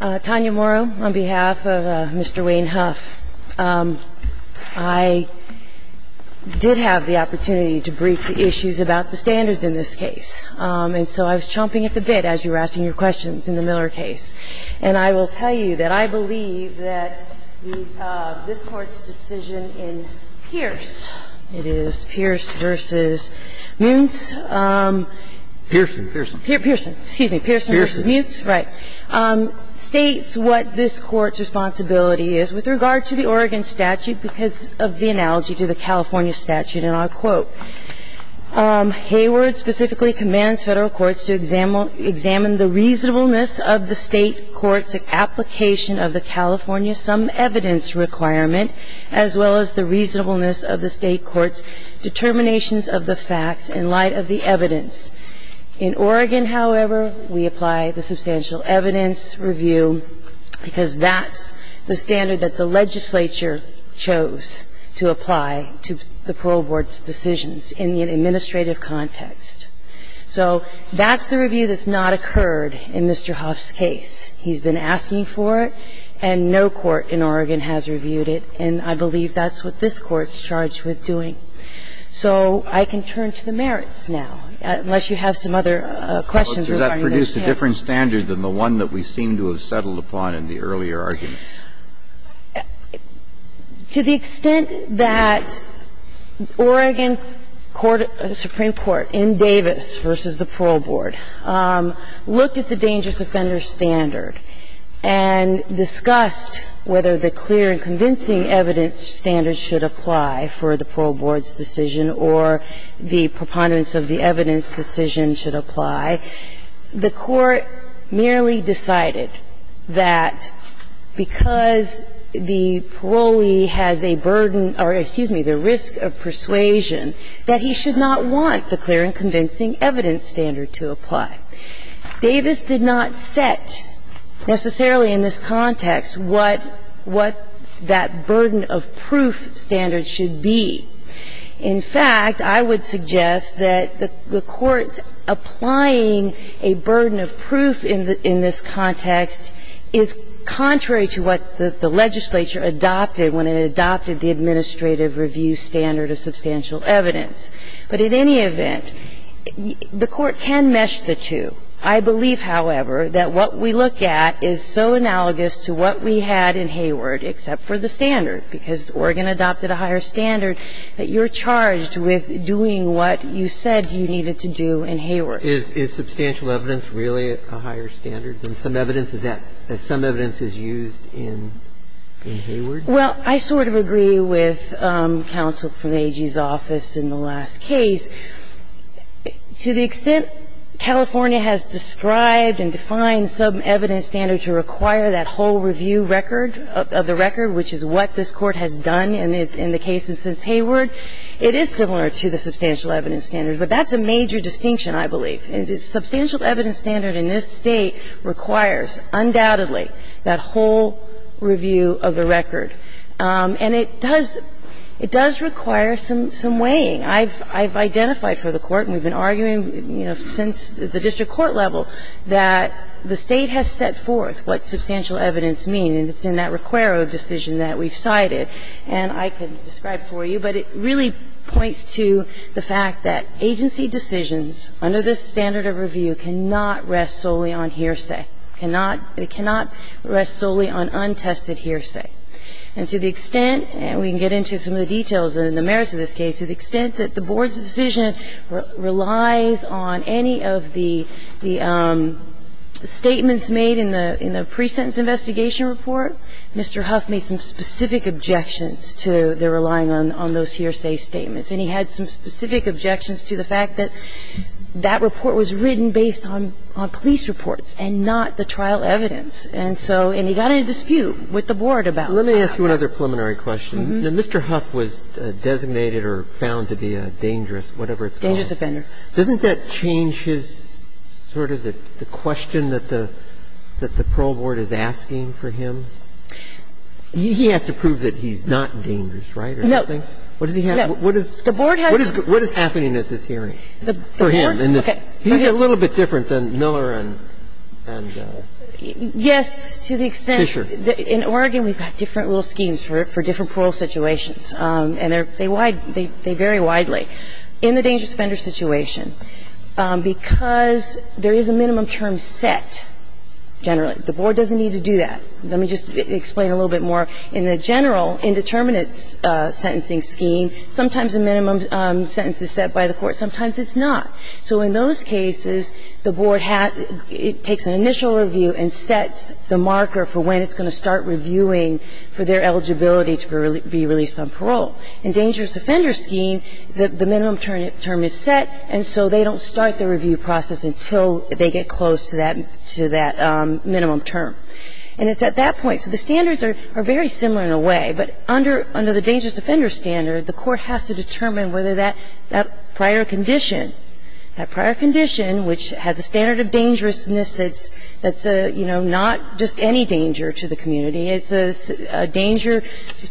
Tanya Morrow on behalf of Mr. Wayne Houff. I did have the opportunity to brief the issues about the standards in this case. And so I was chomping at the bit as you were asking your questions in the Miller case. And I will tell you that I believe that this Court's decision in Pierce v. Muntz states what this Court's responsibility is with regard to the Oregon statute because of the analogy to the California statute. And I'll quote, Hayward specifically commands Federal courts to examine the reasonableness of the State court's application of the California sum evidence requirement, as well as the reasonableness of the State court's determinations of the facts in light of the evidence. In Oregon, however, we apply the substantial evidence review because that's the standard that the legislature chose to apply to the Parole Board's decisions in the administrative context. So that's the review that's not occurred in Mr. Houff's case. He's been asking for it, and no court in Oregon has reviewed it. And I believe that's what this Court's charged with doing. So I can turn to the merits now, unless you have some other questions regarding this case. But does that produce a different standard than the one that we seem to have settled upon in the earlier arguments? To the extent that Oregon court, the Supreme Court, in Davis v. the Parole Board, looked at the dangerous offender standard and discussed whether the clear and convincing evidence standard should apply for the Parole Board's decision or the preponderance of the evidence decision should apply, the Court merely decided that because the parolee has a burden or, excuse me, the risk of persuasion, that he should not want the clear and convincing evidence standard to apply. Davis did not set necessarily in this context what that burden of proof standard should be. In fact, I would suggest that the Court's applying a burden of proof in this context is contrary to what the legislature adopted when it adopted the administrative review standard of substantial evidence. But in any event, the Court can mesh the two. I believe, however, that what we look at is so analogous to what we had in Hayward except for the standard, because Oregon adopted a higher standard, that you're charged with doing what you said you needed to do in Hayward. Is substantial evidence really a higher standard than some evidence? Is that as some evidence is used in Hayward? Well, I sort of agree with counsel from AG's office in the last case. To the extent California has described and defined some evidence standard to require that whole review record of the record, which is what this Court has done in the case since Hayward, it is similar to the substantial evidence standard. But that's a major distinction, I believe. Substantial evidence standard in this State requires, undoubtedly, that whole review of the record. And it does require some weighing. I've identified for the Court, and we've been arguing, you know, since the district court level, that the State has set forth what substantial evidence means, and it's in that requiro decision that we've cited, and I can describe for you. But it really points to the fact that agency decisions under this standard of review cannot rest solely on hearsay. It cannot rest solely on untested hearsay. And to the extent, and we can get into some of the details in the merits of this case, to the extent that the board's decision relies on any of the statements made in the pre-sentence investigation report, Mr. Huff made some specific objections to their relying on those hearsay statements. And he had some specific objections to the fact that that report was written based on police reports and not the trial evidence. And so he got in a dispute with the board about that. Let me ask you another preliminary question. Mr. Huff was designated or found to be a dangerous, whatever it's called. Dangerous offender. Doesn't that change his sort of the question that the parole board is asking for him? He has to prove that he's not dangerous, right, or something? No. What does he have to prove? The board has to prove. What is happening at this hearing for him? Okay. He's a little bit different than Miller and Goh. Yes, to the extent that in Oregon we've got different rule schemes for different parole situations. And they vary widely. In the dangerous offender situation, because there is a minimum term set generally, the board doesn't need to do that. Let me just explain a little bit more. In the general indeterminate sentencing scheme, sometimes a minimum sentence is set by the court. Sometimes it's not. So in those cases, the board takes an initial review and sets the marker for when it's going to start reviewing for their eligibility to be released on parole. In dangerous offender scheme, the minimum term is set, and so they don't start the review process until they get close to that minimum term. And it's at that point. So the standards are very similar in a way. But under the dangerous offender standard, the court has to determine whether that prior condition, that prior condition, which has a standard of dangerousness that's, you know, not just any danger to the community. It's a danger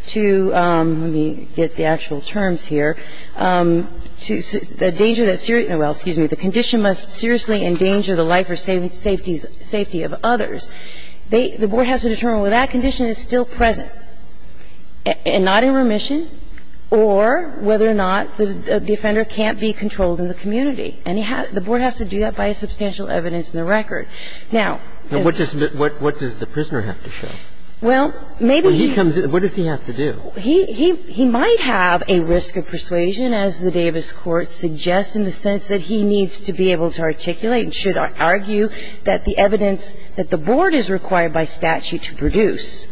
to, let me get the actual terms here, the danger that, well, excuse me, the condition must seriously endanger the life or safety of others. The board has to determine whether that condition is still present and not in remission or whether or not the offender can't be controlled in the community. And he has to do that by a substantial evidence in the record. Now, what does the prisoner have to show? Well, maybe he comes in. What does he have to do? He might have a risk of persuasion, as the Davis court suggests, in the sense that he needs to be able to articulate and should argue that the evidence that the board is required by statute to produce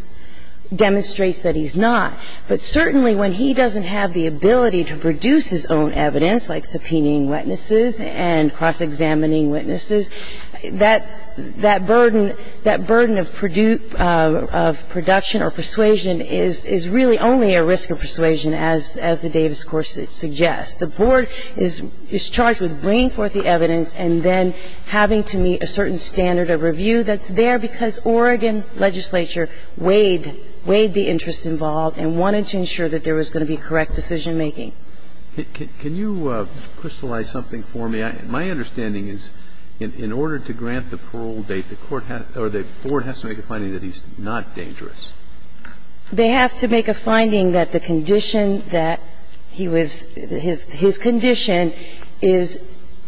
demonstrates that he's not. But certainly, when he doesn't have the ability to produce his own evidence, like subpoenaing witnesses and cross-examining witnesses, that burden of production or persuasion is really only a risk of persuasion, as the Davis court suggests. The board is charged with bringing forth the evidence and then having to meet a certain standard of review that's there because Oregon legislature weighed the interest involved and wanted to ensure that there was going to be correct decision-making. Can you crystallize something for me? My understanding is in order to grant the parole date, the court has to or the board has to make a finding that he's not dangerous. They have to make a finding that the condition that he was his condition is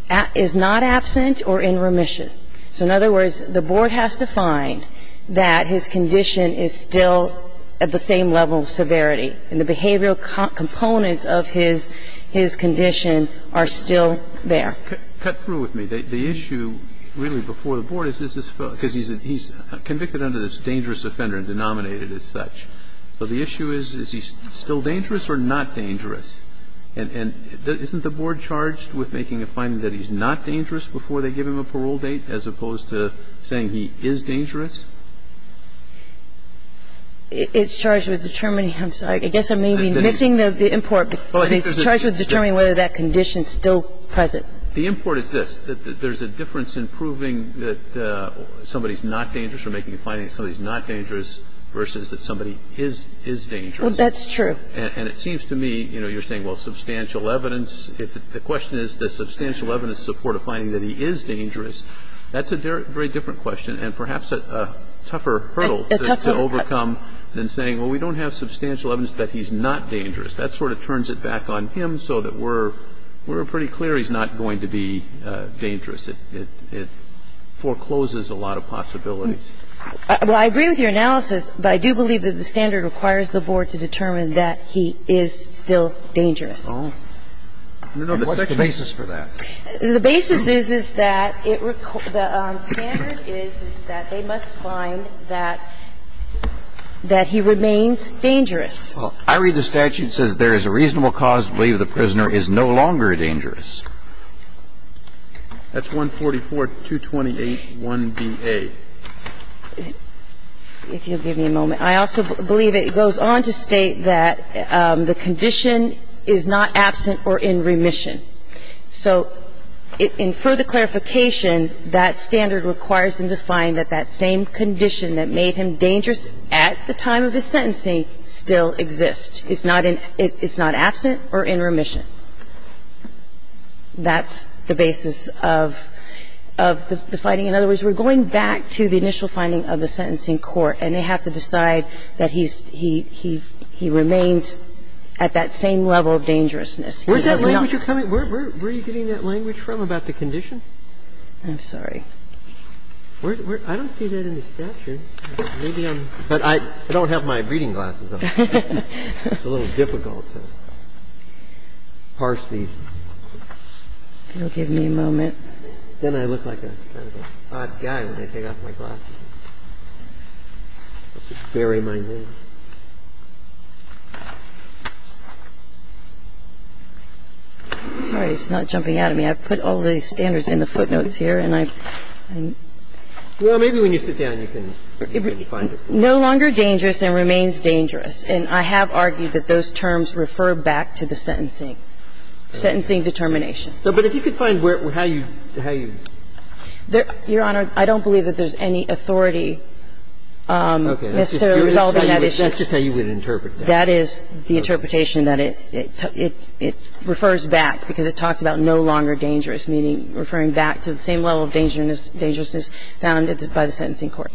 not absent or in remission. So in other words, the board has to find that his condition is still at the same level of severity and the behavioral components of his condition are still there. Cut through with me. The issue really before the board is, is this his fault? Because he's convicted under this dangerous offender and denominated as such. So the issue is, is he still dangerous or not dangerous? And isn't the board charged with making a finding that he's not dangerous before they give him a parole date as opposed to saying he is dangerous? It's charged with determining. I'm sorry. I guess I may be missing the import. But it's charged with determining whether that condition is still present. The import is this. There's a difference in proving that somebody's not dangerous or making a finding that somebody's not dangerous versus that somebody is dangerous. Well, that's true. And it seems to me, you know, you're saying, well, substantial evidence. If the question is, does substantial evidence support a finding that he is dangerous, that's a very different question and perhaps a tougher hurdle to overcome than saying, well, we don't have substantial evidence that he's not dangerous. That sort of turns it back on him so that we're pretty clear he's not going to be dangerous. It forecloses a lot of possibilities. Well, I agree with your analysis, but I do believe that the standard requires the board to determine that he is still dangerous. Oh. No, no. What's the basis for that? The basis is, is that the standard is that they must find that he remains dangerous. Well, I read the statute. It says there is a reasonable cause to believe the prisoner is no longer dangerous. That's 144.228.1bA. If you'll give me a moment. I also believe it goes on to state that the condition is not absent or in remission. So in further clarification, that standard requires them to find that that same condition that made him dangerous at the time of the sentencing still exists. It's not in – it's not absent or in remission. That's the basis of the finding. In other words, we're going back to the initial finding of the sentencing court, and they have to decide that he's – he remains at that same level of dangerousness. Where's that language coming – where are you getting that language from about the condition? I'm sorry. I don't see that in the statute. Maybe I'm – but I don't have my reading glasses on. It's a little difficult to parse these. If you'll give me a moment. Then I look like a kind of an odd guy when I take off my glasses. Bury my name. I'm sorry. It's not jumping out at me. I've put all the standards in the footnotes here, and I'm – I'm – Well, maybe when you sit down, you can find it. No longer dangerous and remains dangerous. And I have argued that those terms refer back to the sentencing – sentencing determination. But if you could find where – how you – how you – Your Honor, I don't believe that there's any authority necessarily resolving that issue. That's just how you would interpret that. That is the interpretation, that it – it refers back because it talks about no longer dangerous, meaning referring back to the same level of dangerousness found by the sentencing court.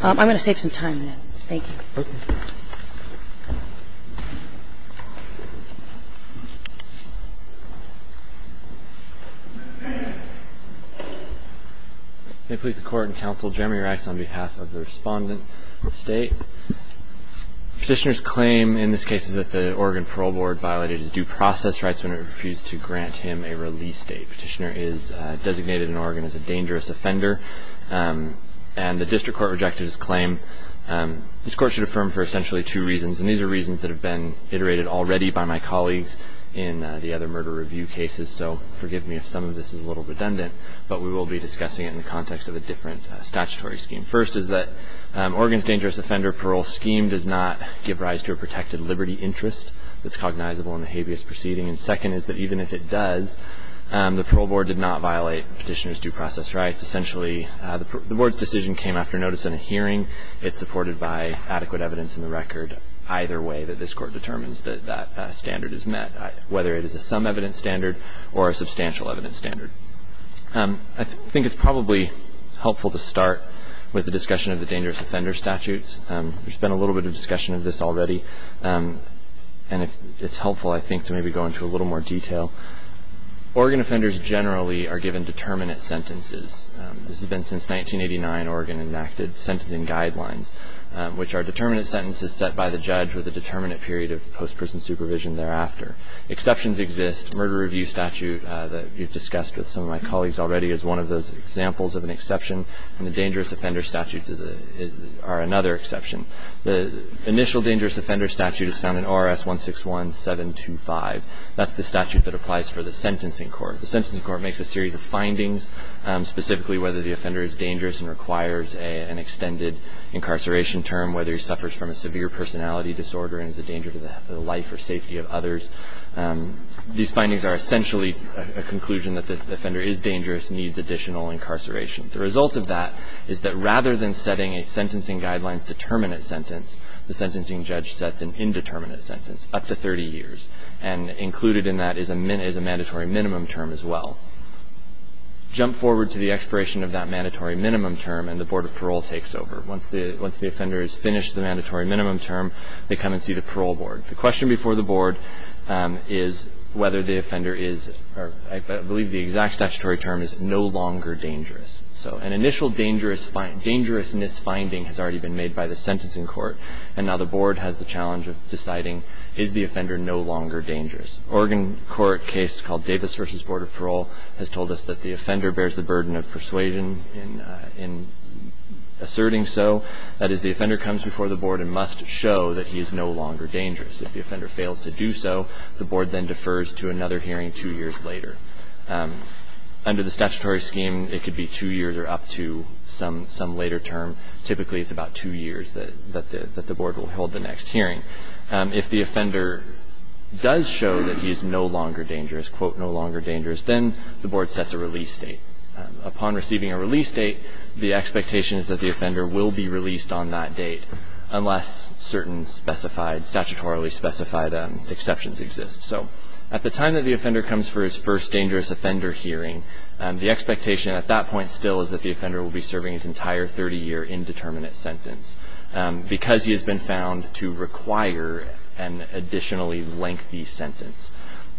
I'm going to save some time now. Thank you. Okay. May it please the Court and Counsel, Jeremy Rex on behalf of the Respondent State. Petitioner's claim in this case is that the Oregon Parole Board violated his due process rights when it refused to grant him a release date. Petitioner is designated in Oregon as a dangerous offender. And the district court rejected his claim. This Court should affirm for essentially two reasons. And these are reasons that have been iterated already by my colleagues in the other murder review cases. So forgive me if some of this is a little redundant, but we will be discussing it in the context of a different statutory scheme. First is that Oregon's dangerous offender parole scheme does not give rise to a protected liberty interest that's cognizable in the habeas proceeding. And second is that even if it does, the parole board did not violate Petitioner's due process rights. The Board's decision came after notice in a hearing. It's supported by adequate evidence in the record either way that this Court determines that that standard is met, whether it is a some evidence standard or a substantial evidence standard. I think it's probably helpful to start with the discussion of the dangerous offender statutes. There's been a little bit of discussion of this already. And it's helpful, I think, to maybe go into a little more detail. Oregon offenders generally are given determinate sentences. This has been since 1989, Oregon enacted sentencing guidelines, which are determinate sentences set by the judge with a determinate period of post-prison supervision thereafter. Exceptions exist. Murder review statute that you've discussed with some of my colleagues already is one of those examples of an exception. And the dangerous offender statutes are another exception. The initial dangerous offender statute is found in ORS 161725. That's the statute that applies for the sentencing court. The sentencing court makes a series of findings, specifically whether the offender is dangerous and requires an extended incarceration term, whether he suffers from a severe personality disorder and is a danger to the life or safety of others. These findings are essentially a conclusion that the offender is dangerous, needs additional incarceration. The result of that is that rather than setting a sentencing guidelines determinate sentence, the sentencing judge sets an indeterminate sentence, up to 30 years. And included in that is a mandatory minimum term as well. Jump forward to the expiration of that mandatory minimum term and the Board of Parole takes over. Once the offender has finished the mandatory minimum term, they come and see the parole board. The question before the board is whether the offender is or I believe the exact statutory term is no longer dangerous. So an initial dangerousness finding has already been made by the sentencing court. And now the board has the challenge of deciding is the offender no longer dangerous. Oregon court case called Davis v. Board of Parole has told us that the offender bears the burden of persuasion in asserting so. That is, the offender comes before the board and must show that he is no longer dangerous. If the offender fails to do so, the board then defers to another hearing two years later. Under the statutory scheme, it could be two years or up to some later term. Typically, it's about two years that the board will hold the next hearing. If the offender does show that he is no longer dangerous, quote, no longer dangerous, then the board sets a release date. Upon receiving a release date, the expectation is that the offender will be released on that date unless certain specified, statutorily specified exceptions exist. So at the time that the offender comes for his first dangerous offender hearing, the expectation at that point still is that the offender will be serving his entire 30-year indeterminate sentence because he has been found to require an additionally lengthy sentence.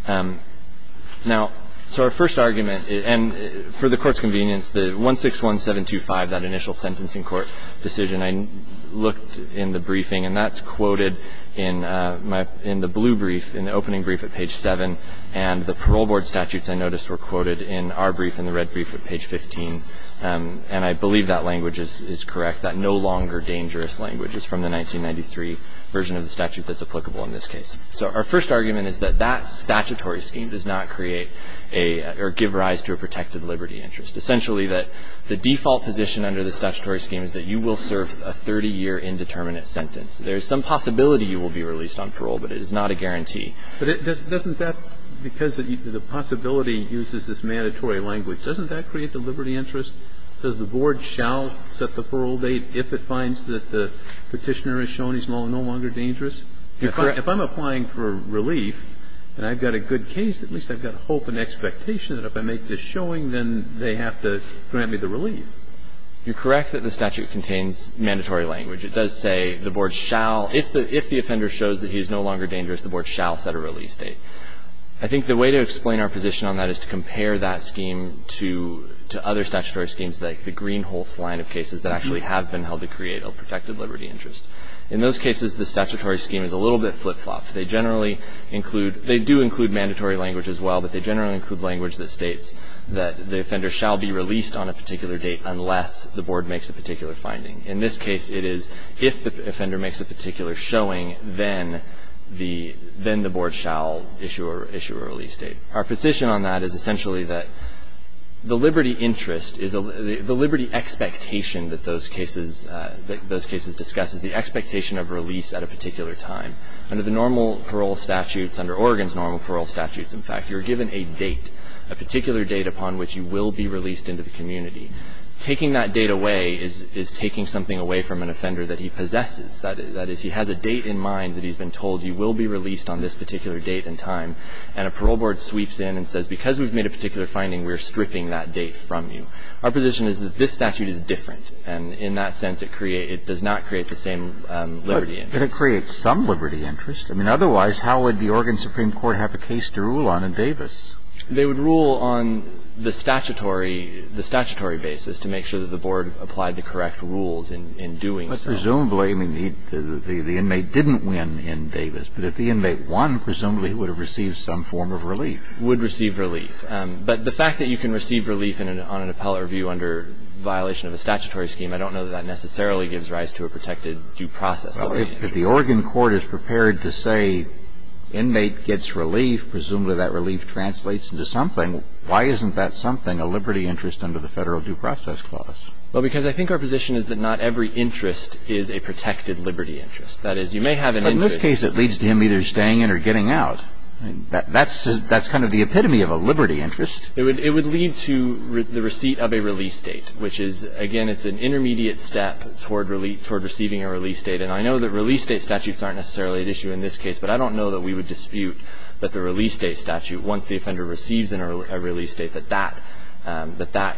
Now, so our first argument, and for the Court's convenience, the 161725, that initial sentencing court decision, I looked in the briefing, and that's quoted in my – in the blue brief, in the opening brief at page 7. And the parole board statutes, I noticed, were quoted in our brief, in the red brief at page 15. And I believe that language is correct, that no longer dangerous language is from the 1993 version of the statute that's applicable in this case. So our first argument is that that statutory scheme does not create a – or give rise to a protected liberty interest. Essentially, the default position under the statutory scheme is that you will serve a 30-year indeterminate sentence. There is some possibility you will be released on parole, but it is not a guarantee. But doesn't that – because the possibility uses this mandatory language, doesn't that create the liberty interest? Does the board shall set the parole date if it finds that the Petitioner is shown he's no longer dangerous? If I'm applying for relief and I've got a good case, at least I've got hope and expectation that if I make this showing, then they have to grant me the relief. You're correct that the statute contains mandatory language. It does say the board shall – if the offender shows that he is no longer dangerous, the board shall set a release date. I think the way to explain our position on that is to compare that scheme to other statutory schemes like the Greenholtz line of cases that actually have been held to create a protected liberty interest. In those cases, the statutory scheme is a little bit flip-flopped. They generally include – they do include mandatory language as well, but they generally include language that states that the offender shall be released on a particular date unless the board makes a particular finding. In this case, it is if the offender makes a particular showing, then the – then the board shall issue a release date. Our position on that is essentially that the liberty interest is a – the liberty expectation that those cases – that those cases discuss is the expectation of release at a particular time. Under the normal parole statutes, under Oregon's normal parole statutes, in fact, you're given a date, a particular date upon which you will be released into the community. Taking that date away is taking something away from an offender that he possesses. That is, he has a date in mind that he's been told you will be released on this particular date and time, and a parole board sweeps in and says, because we've made a particular finding, we're stripping that date from you. Our position is that this statute is different, and in that sense it creates – it does not create the same liberty interest. But it creates some liberty interest. I mean, otherwise, how would the Oregon Supreme Court have a case to rule on in Davis? They would rule on the statutory – the statutory basis to make sure that the board applied the correct rules in doing so. But presumably, I mean, the inmate didn't win in Davis, but if the inmate won, presumably he would have received some form of relief. Would receive relief. But the fact that you can receive relief on an appellate review under violation of a statutory scheme, I don't know that that necessarily gives rise to a protected due process. Well, if the Oregon court is prepared to say, inmate gets relief, presumably that relief translates into something. Why isn't that something, a liberty interest under the federal due process clause? Well, because I think our position is that not every interest is a protected liberty interest. That is, you may have an interest – In this case, it leads to him either staying in or getting out. That's kind of the epitome of a liberty interest. It would lead to the receipt of a release date, which is, again, it's an intermediate step toward receiving a release date. And I know that release date statutes aren't necessarily at issue in this case, but that that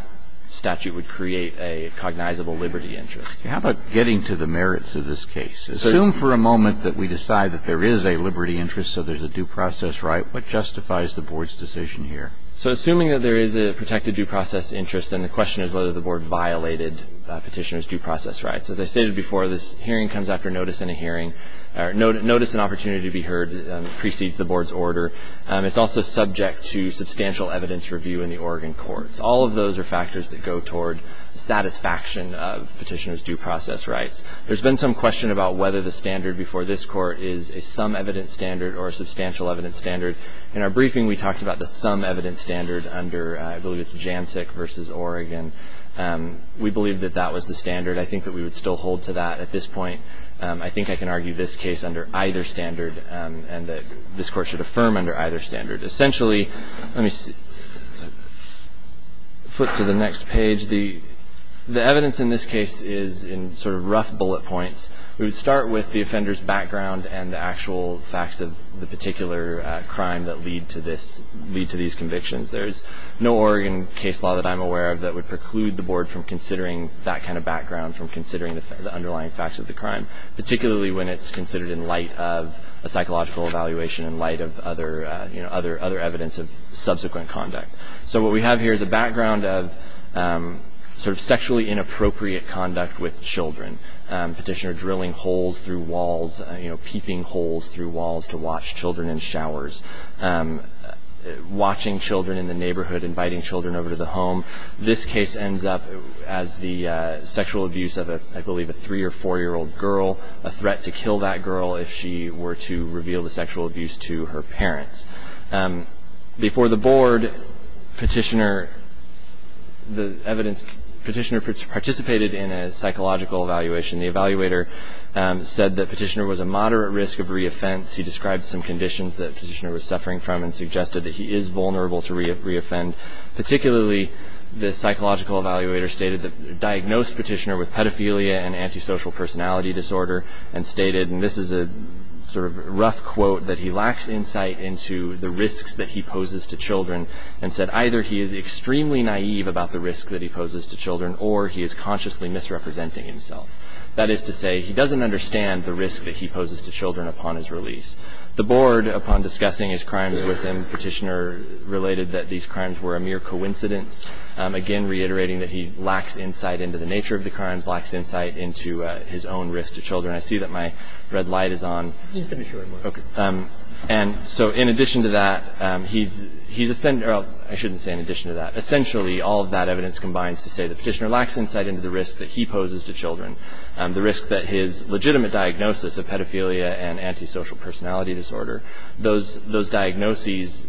statute would create a cognizable liberty interest. How about getting to the merits of this case? Assume for a moment that we decide that there is a liberty interest, so there's a due process right. What justifies the Board's decision here? So assuming that there is a protected due process interest, then the question is whether the Board violated Petitioner's due process rights. As I stated before, this hearing comes after notice in a hearing. Notice and opportunity to be heard precedes the Board's order. It's also subject to substantial evidence review in the Oregon courts. All of those are factors that go toward the satisfaction of Petitioner's due process rights. There's been some question about whether the standard before this Court is a some-evidence standard or a substantial-evidence standard. In our briefing, we talked about the some-evidence standard under – I believe it's JANSEC versus Oregon. We believe that that was the standard. I think that we would still hold to that at this point. I think I can argue this case under either standard and that this Court should affirm under either standard. Essentially – let me flip to the next page. The evidence in this case is in sort of rough bullet points. We would start with the offender's background and the actual facts of the particular crime that lead to this – lead to these convictions. There's no Oregon case law that I'm aware of that would preclude the Board from considering that kind of background, from considering the underlying facts of the crime, particularly when it's considered in light of a psychological evaluation in light of other – you know, other evidence of subsequent conduct. So what we have here is a background of sort of sexually inappropriate conduct with children. Petitioner drilling holes through walls, you know, peeping holes through walls to watch children in showers, watching children in the neighborhood, inviting children over to the home. This case ends up as the sexual abuse of, I believe, a three- or four-year-old girl, a threat to kill that girl if she were to reveal the sexual abuse to her parents. Before the Board, Petitioner – the evidence – Petitioner participated in a psychological evaluation. The evaluator said that Petitioner was a moderate risk of re-offense. He described some conditions that Petitioner was suffering from and suggested that he is vulnerable to re-offend. Particularly, the psychological evaluator stated that – diagnosed Petitioner with and stated – and this is a sort of rough quote – that he lacks insight into the risks that he poses to children and said either he is extremely naive about the risk that he poses to children or he is consciously misrepresenting himself. That is to say, he doesn't understand the risk that he poses to children upon his release. The Board, upon discussing his crimes with him, Petitioner related that these crimes were a mere coincidence, again reiterating that he lacks insight into the nature of the crimes, lacks insight into his own risk to children. I see that my red light is on. And so in addition to that, he's – I shouldn't say in addition to that. Essentially, all of that evidence combines to say that Petitioner lacks insight into the risk that he poses to children. The risk that his legitimate diagnosis of pedophilia and antisocial personality disorder, those diagnoses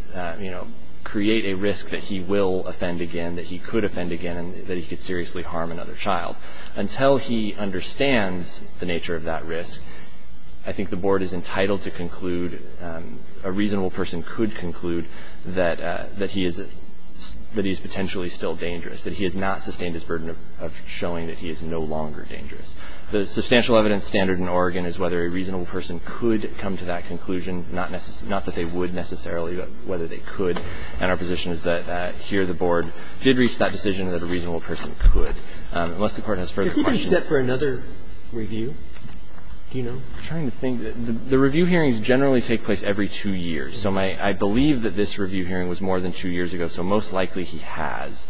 create a risk that he will offend again, that he could potentially harm another child. Until he understands the nature of that risk, I think the Board is entitled to conclude, a reasonable person could conclude, that he is potentially still dangerous, that he has not sustained his burden of showing that he is no longer dangerous. The substantial evidence standard in Oregon is whether a reasonable person could come to that conclusion, not that they would necessarily, but whether they could. And our position is that here the Board did reach that decision and that a reasonable person could, unless the Court has further questions. Is he being set for another review? Do you know? I'm trying to think. The review hearings generally take place every two years. So my – I believe that this review hearing was more than two years ago, so most likely he has.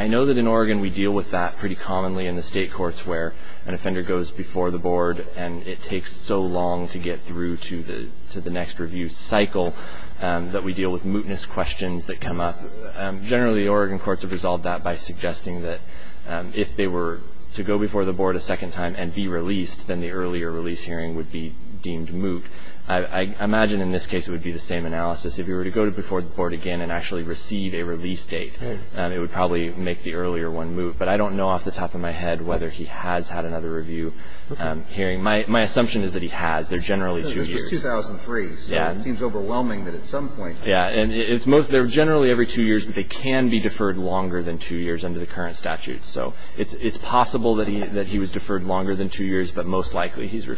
I know that in Oregon we deal with that pretty commonly in the State courts where an offender goes before the Board and it takes so long to get through to the next review cycle that we deal with mootness questions that come up. Generally, Oregon courts have resolved that by suggesting that if they were to go before the Board a second time and be released, then the earlier release hearing would be deemed moot. I imagine in this case it would be the same analysis. If he were to go before the Board again and actually receive a release date, it would probably make the earlier one moot. But I don't know off the top of my head whether he has had another review hearing. My assumption is that he has. They're generally two years. No, this was 2003, so it seems overwhelming that at some point. Yeah. And it's most – they're generally every two years, but they can be deferred longer than two years under the current statutes. So it's possible that he was deferred longer than two years, but most likely he's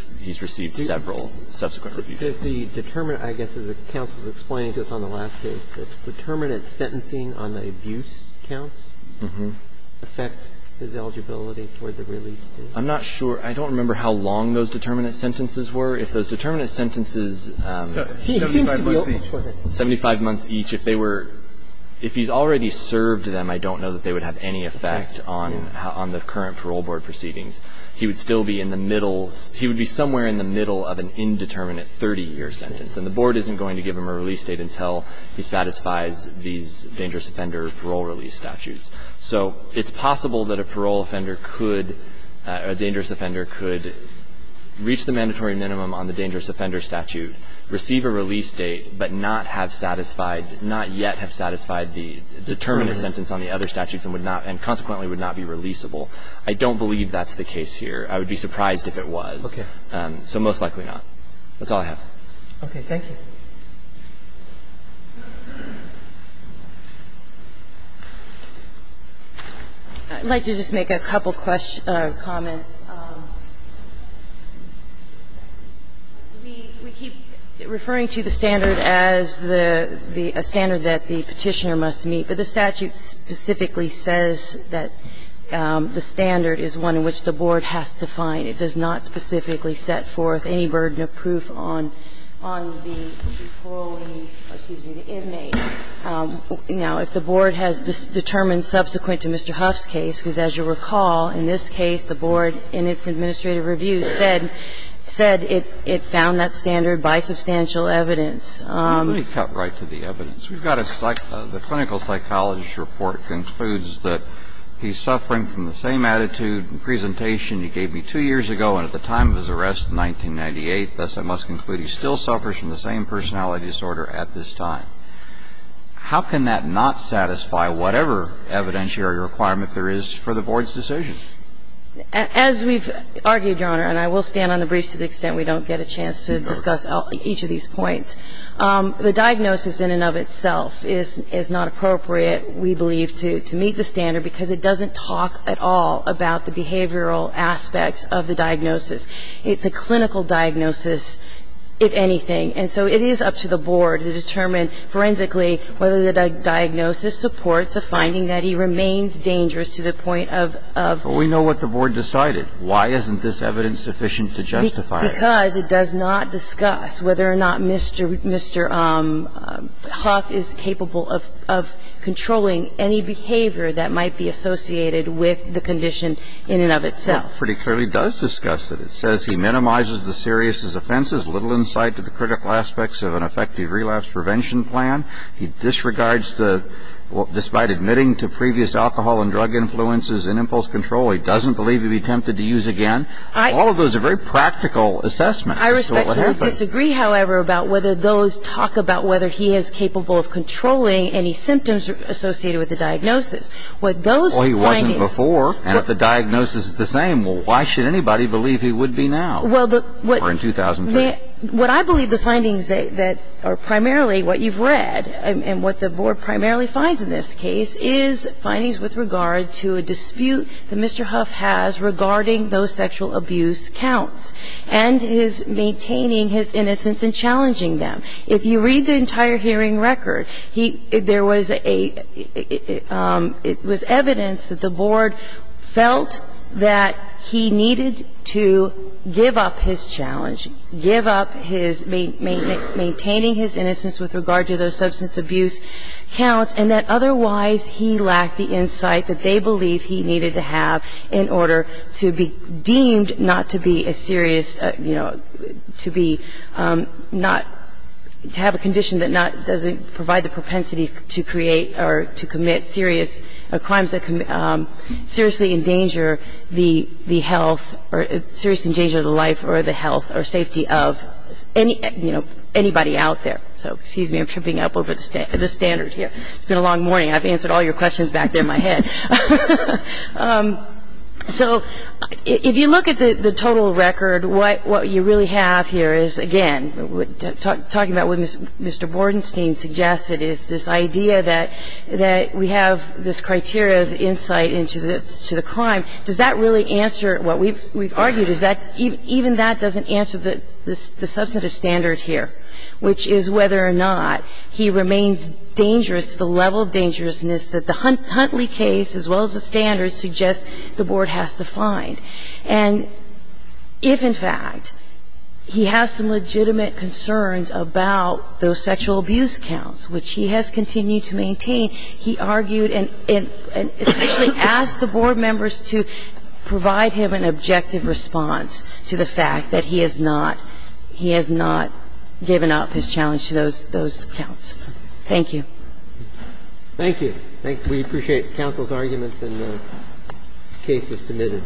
received several subsequent reviews. Does the determinate – I guess as the counsel was explaining to us on the last case, does determinate sentencing on the abuse count affect his eligibility for the release date? I'm not sure. I don't remember how long those determinate sentences were. If those determinate sentences – So 75 months each. 75 months each. If they were – if he's already served them, I don't know that they would have any effect on the current parole board proceedings. He would still be in the middle – he would be somewhere in the middle of an indeterminate 30-year sentence. And the Board isn't going to give him a release date until he satisfies these dangerous offender parole release statutes. So it's possible that a parole offender could – a dangerous offender could reach the mandatory minimum on the dangerous offender statute, receive a release date, but not have satisfied – not yet have satisfied the determinate sentence on the other statutes and would not – and consequently would not be releasable. I don't believe that's the case here. I would be surprised if it was. Okay. So most likely not. That's all I have. Okay. Thank you. I'd like to just make a couple comments. We keep referring to the standard as the standard that the Petitioner must meet, but the statute specifically says that the standard is one in which the Board has to find. And it does not specifically set forth any burden of proof on the parolee or, excuse me, the inmate. Now, if the Board has determined subsequent to Mr. Huff's case, because as you recall, in this case the Board in its administrative review said it found that standard by substantial evidence. Let me cut right to the evidence. We've got a – the clinical psychologist's report concludes that he's suffering from the same attitude and presentation he gave me two years ago and at the time of his arrest in 1998, thus I must conclude he still suffers from the same personality disorder at this time. How can that not satisfy whatever evidentiary requirement there is for the Board's decision? As we've argued, Your Honor, and I will stand on the briefs to the extent we don't get a chance to discuss each of these points, the diagnosis in and of itself is not appropriate, we believe, to meet the standard because it doesn't talk at all about the behavioral aspects of the diagnosis. It's a clinical diagnosis, if anything. And so it is up to the Board to determine forensically whether the diagnosis supports a finding that he remains dangerous to the point of – But we know what the Board decided. Why isn't this evidence sufficient to justify it? Because it does not discuss whether or not Mr. Hough is capable of controlling any behavior that might be associated with the condition in and of itself. Well, it pretty clearly does discuss it. It says he minimizes the serious offenses, little insight to the critical aspects of an effective relapse prevention plan. He disregards the – despite admitting to previous alcohol and drug influences and impulse control, he doesn't believe he'd be tempted to use again. All of those are very practical assessments. I respectfully disagree, however, about whether those talk about whether he is capable of controlling any symptoms associated with the diagnosis. What those findings – Well, he wasn't before, and if the diagnosis is the same, well, why should anybody believe he would be now? Well, the – Or in 2003. What I believe the findings that are primarily what you've read and what the Board primarily finds in this case is findings with regard to a dispute that Mr. Hough has regarding those sexual abuse counts and his maintaining his innocence and challenging them. If you read the entire hearing record, he – there was a – it was evidence that the Board felt that he needed to give up his challenge, give up his maintaining his innocence with regard to those substance abuse counts, and that otherwise he lacked the insight that they believed he needed to have in order to be deemed not to be a serious – you know, to be not – to have a condition that not – doesn't provide the propensity to create or to commit serious – crimes that can seriously endanger the health or – serious endanger the life or the health or safety of any – you know, anybody out there. So, excuse me. I'm tripping up over the standard here. It's been a long morning. I've answered all your questions back there in my head. So, if you look at the total record, what you really have here is, again, talking about what Mr. Bordenstein suggested is this idea that we have this criteria of insight into the crime. Does that really answer what we've argued? Is that – even that doesn't answer the substantive standard here, which is whether or not he remains dangerous to the level of dangerousness that the Huntley case, as well as the standards, suggest the Board has to find. And if, in fact, he has some legitimate concerns about those sexual abuse counts, which he has continued to maintain, he argued and – and essentially asked the Board members to provide him an objective response to the fact that he has not – he has not given up his challenge to those – those counts. Thank you. Thank you. We appreciate counsel's arguments and the cases submitted.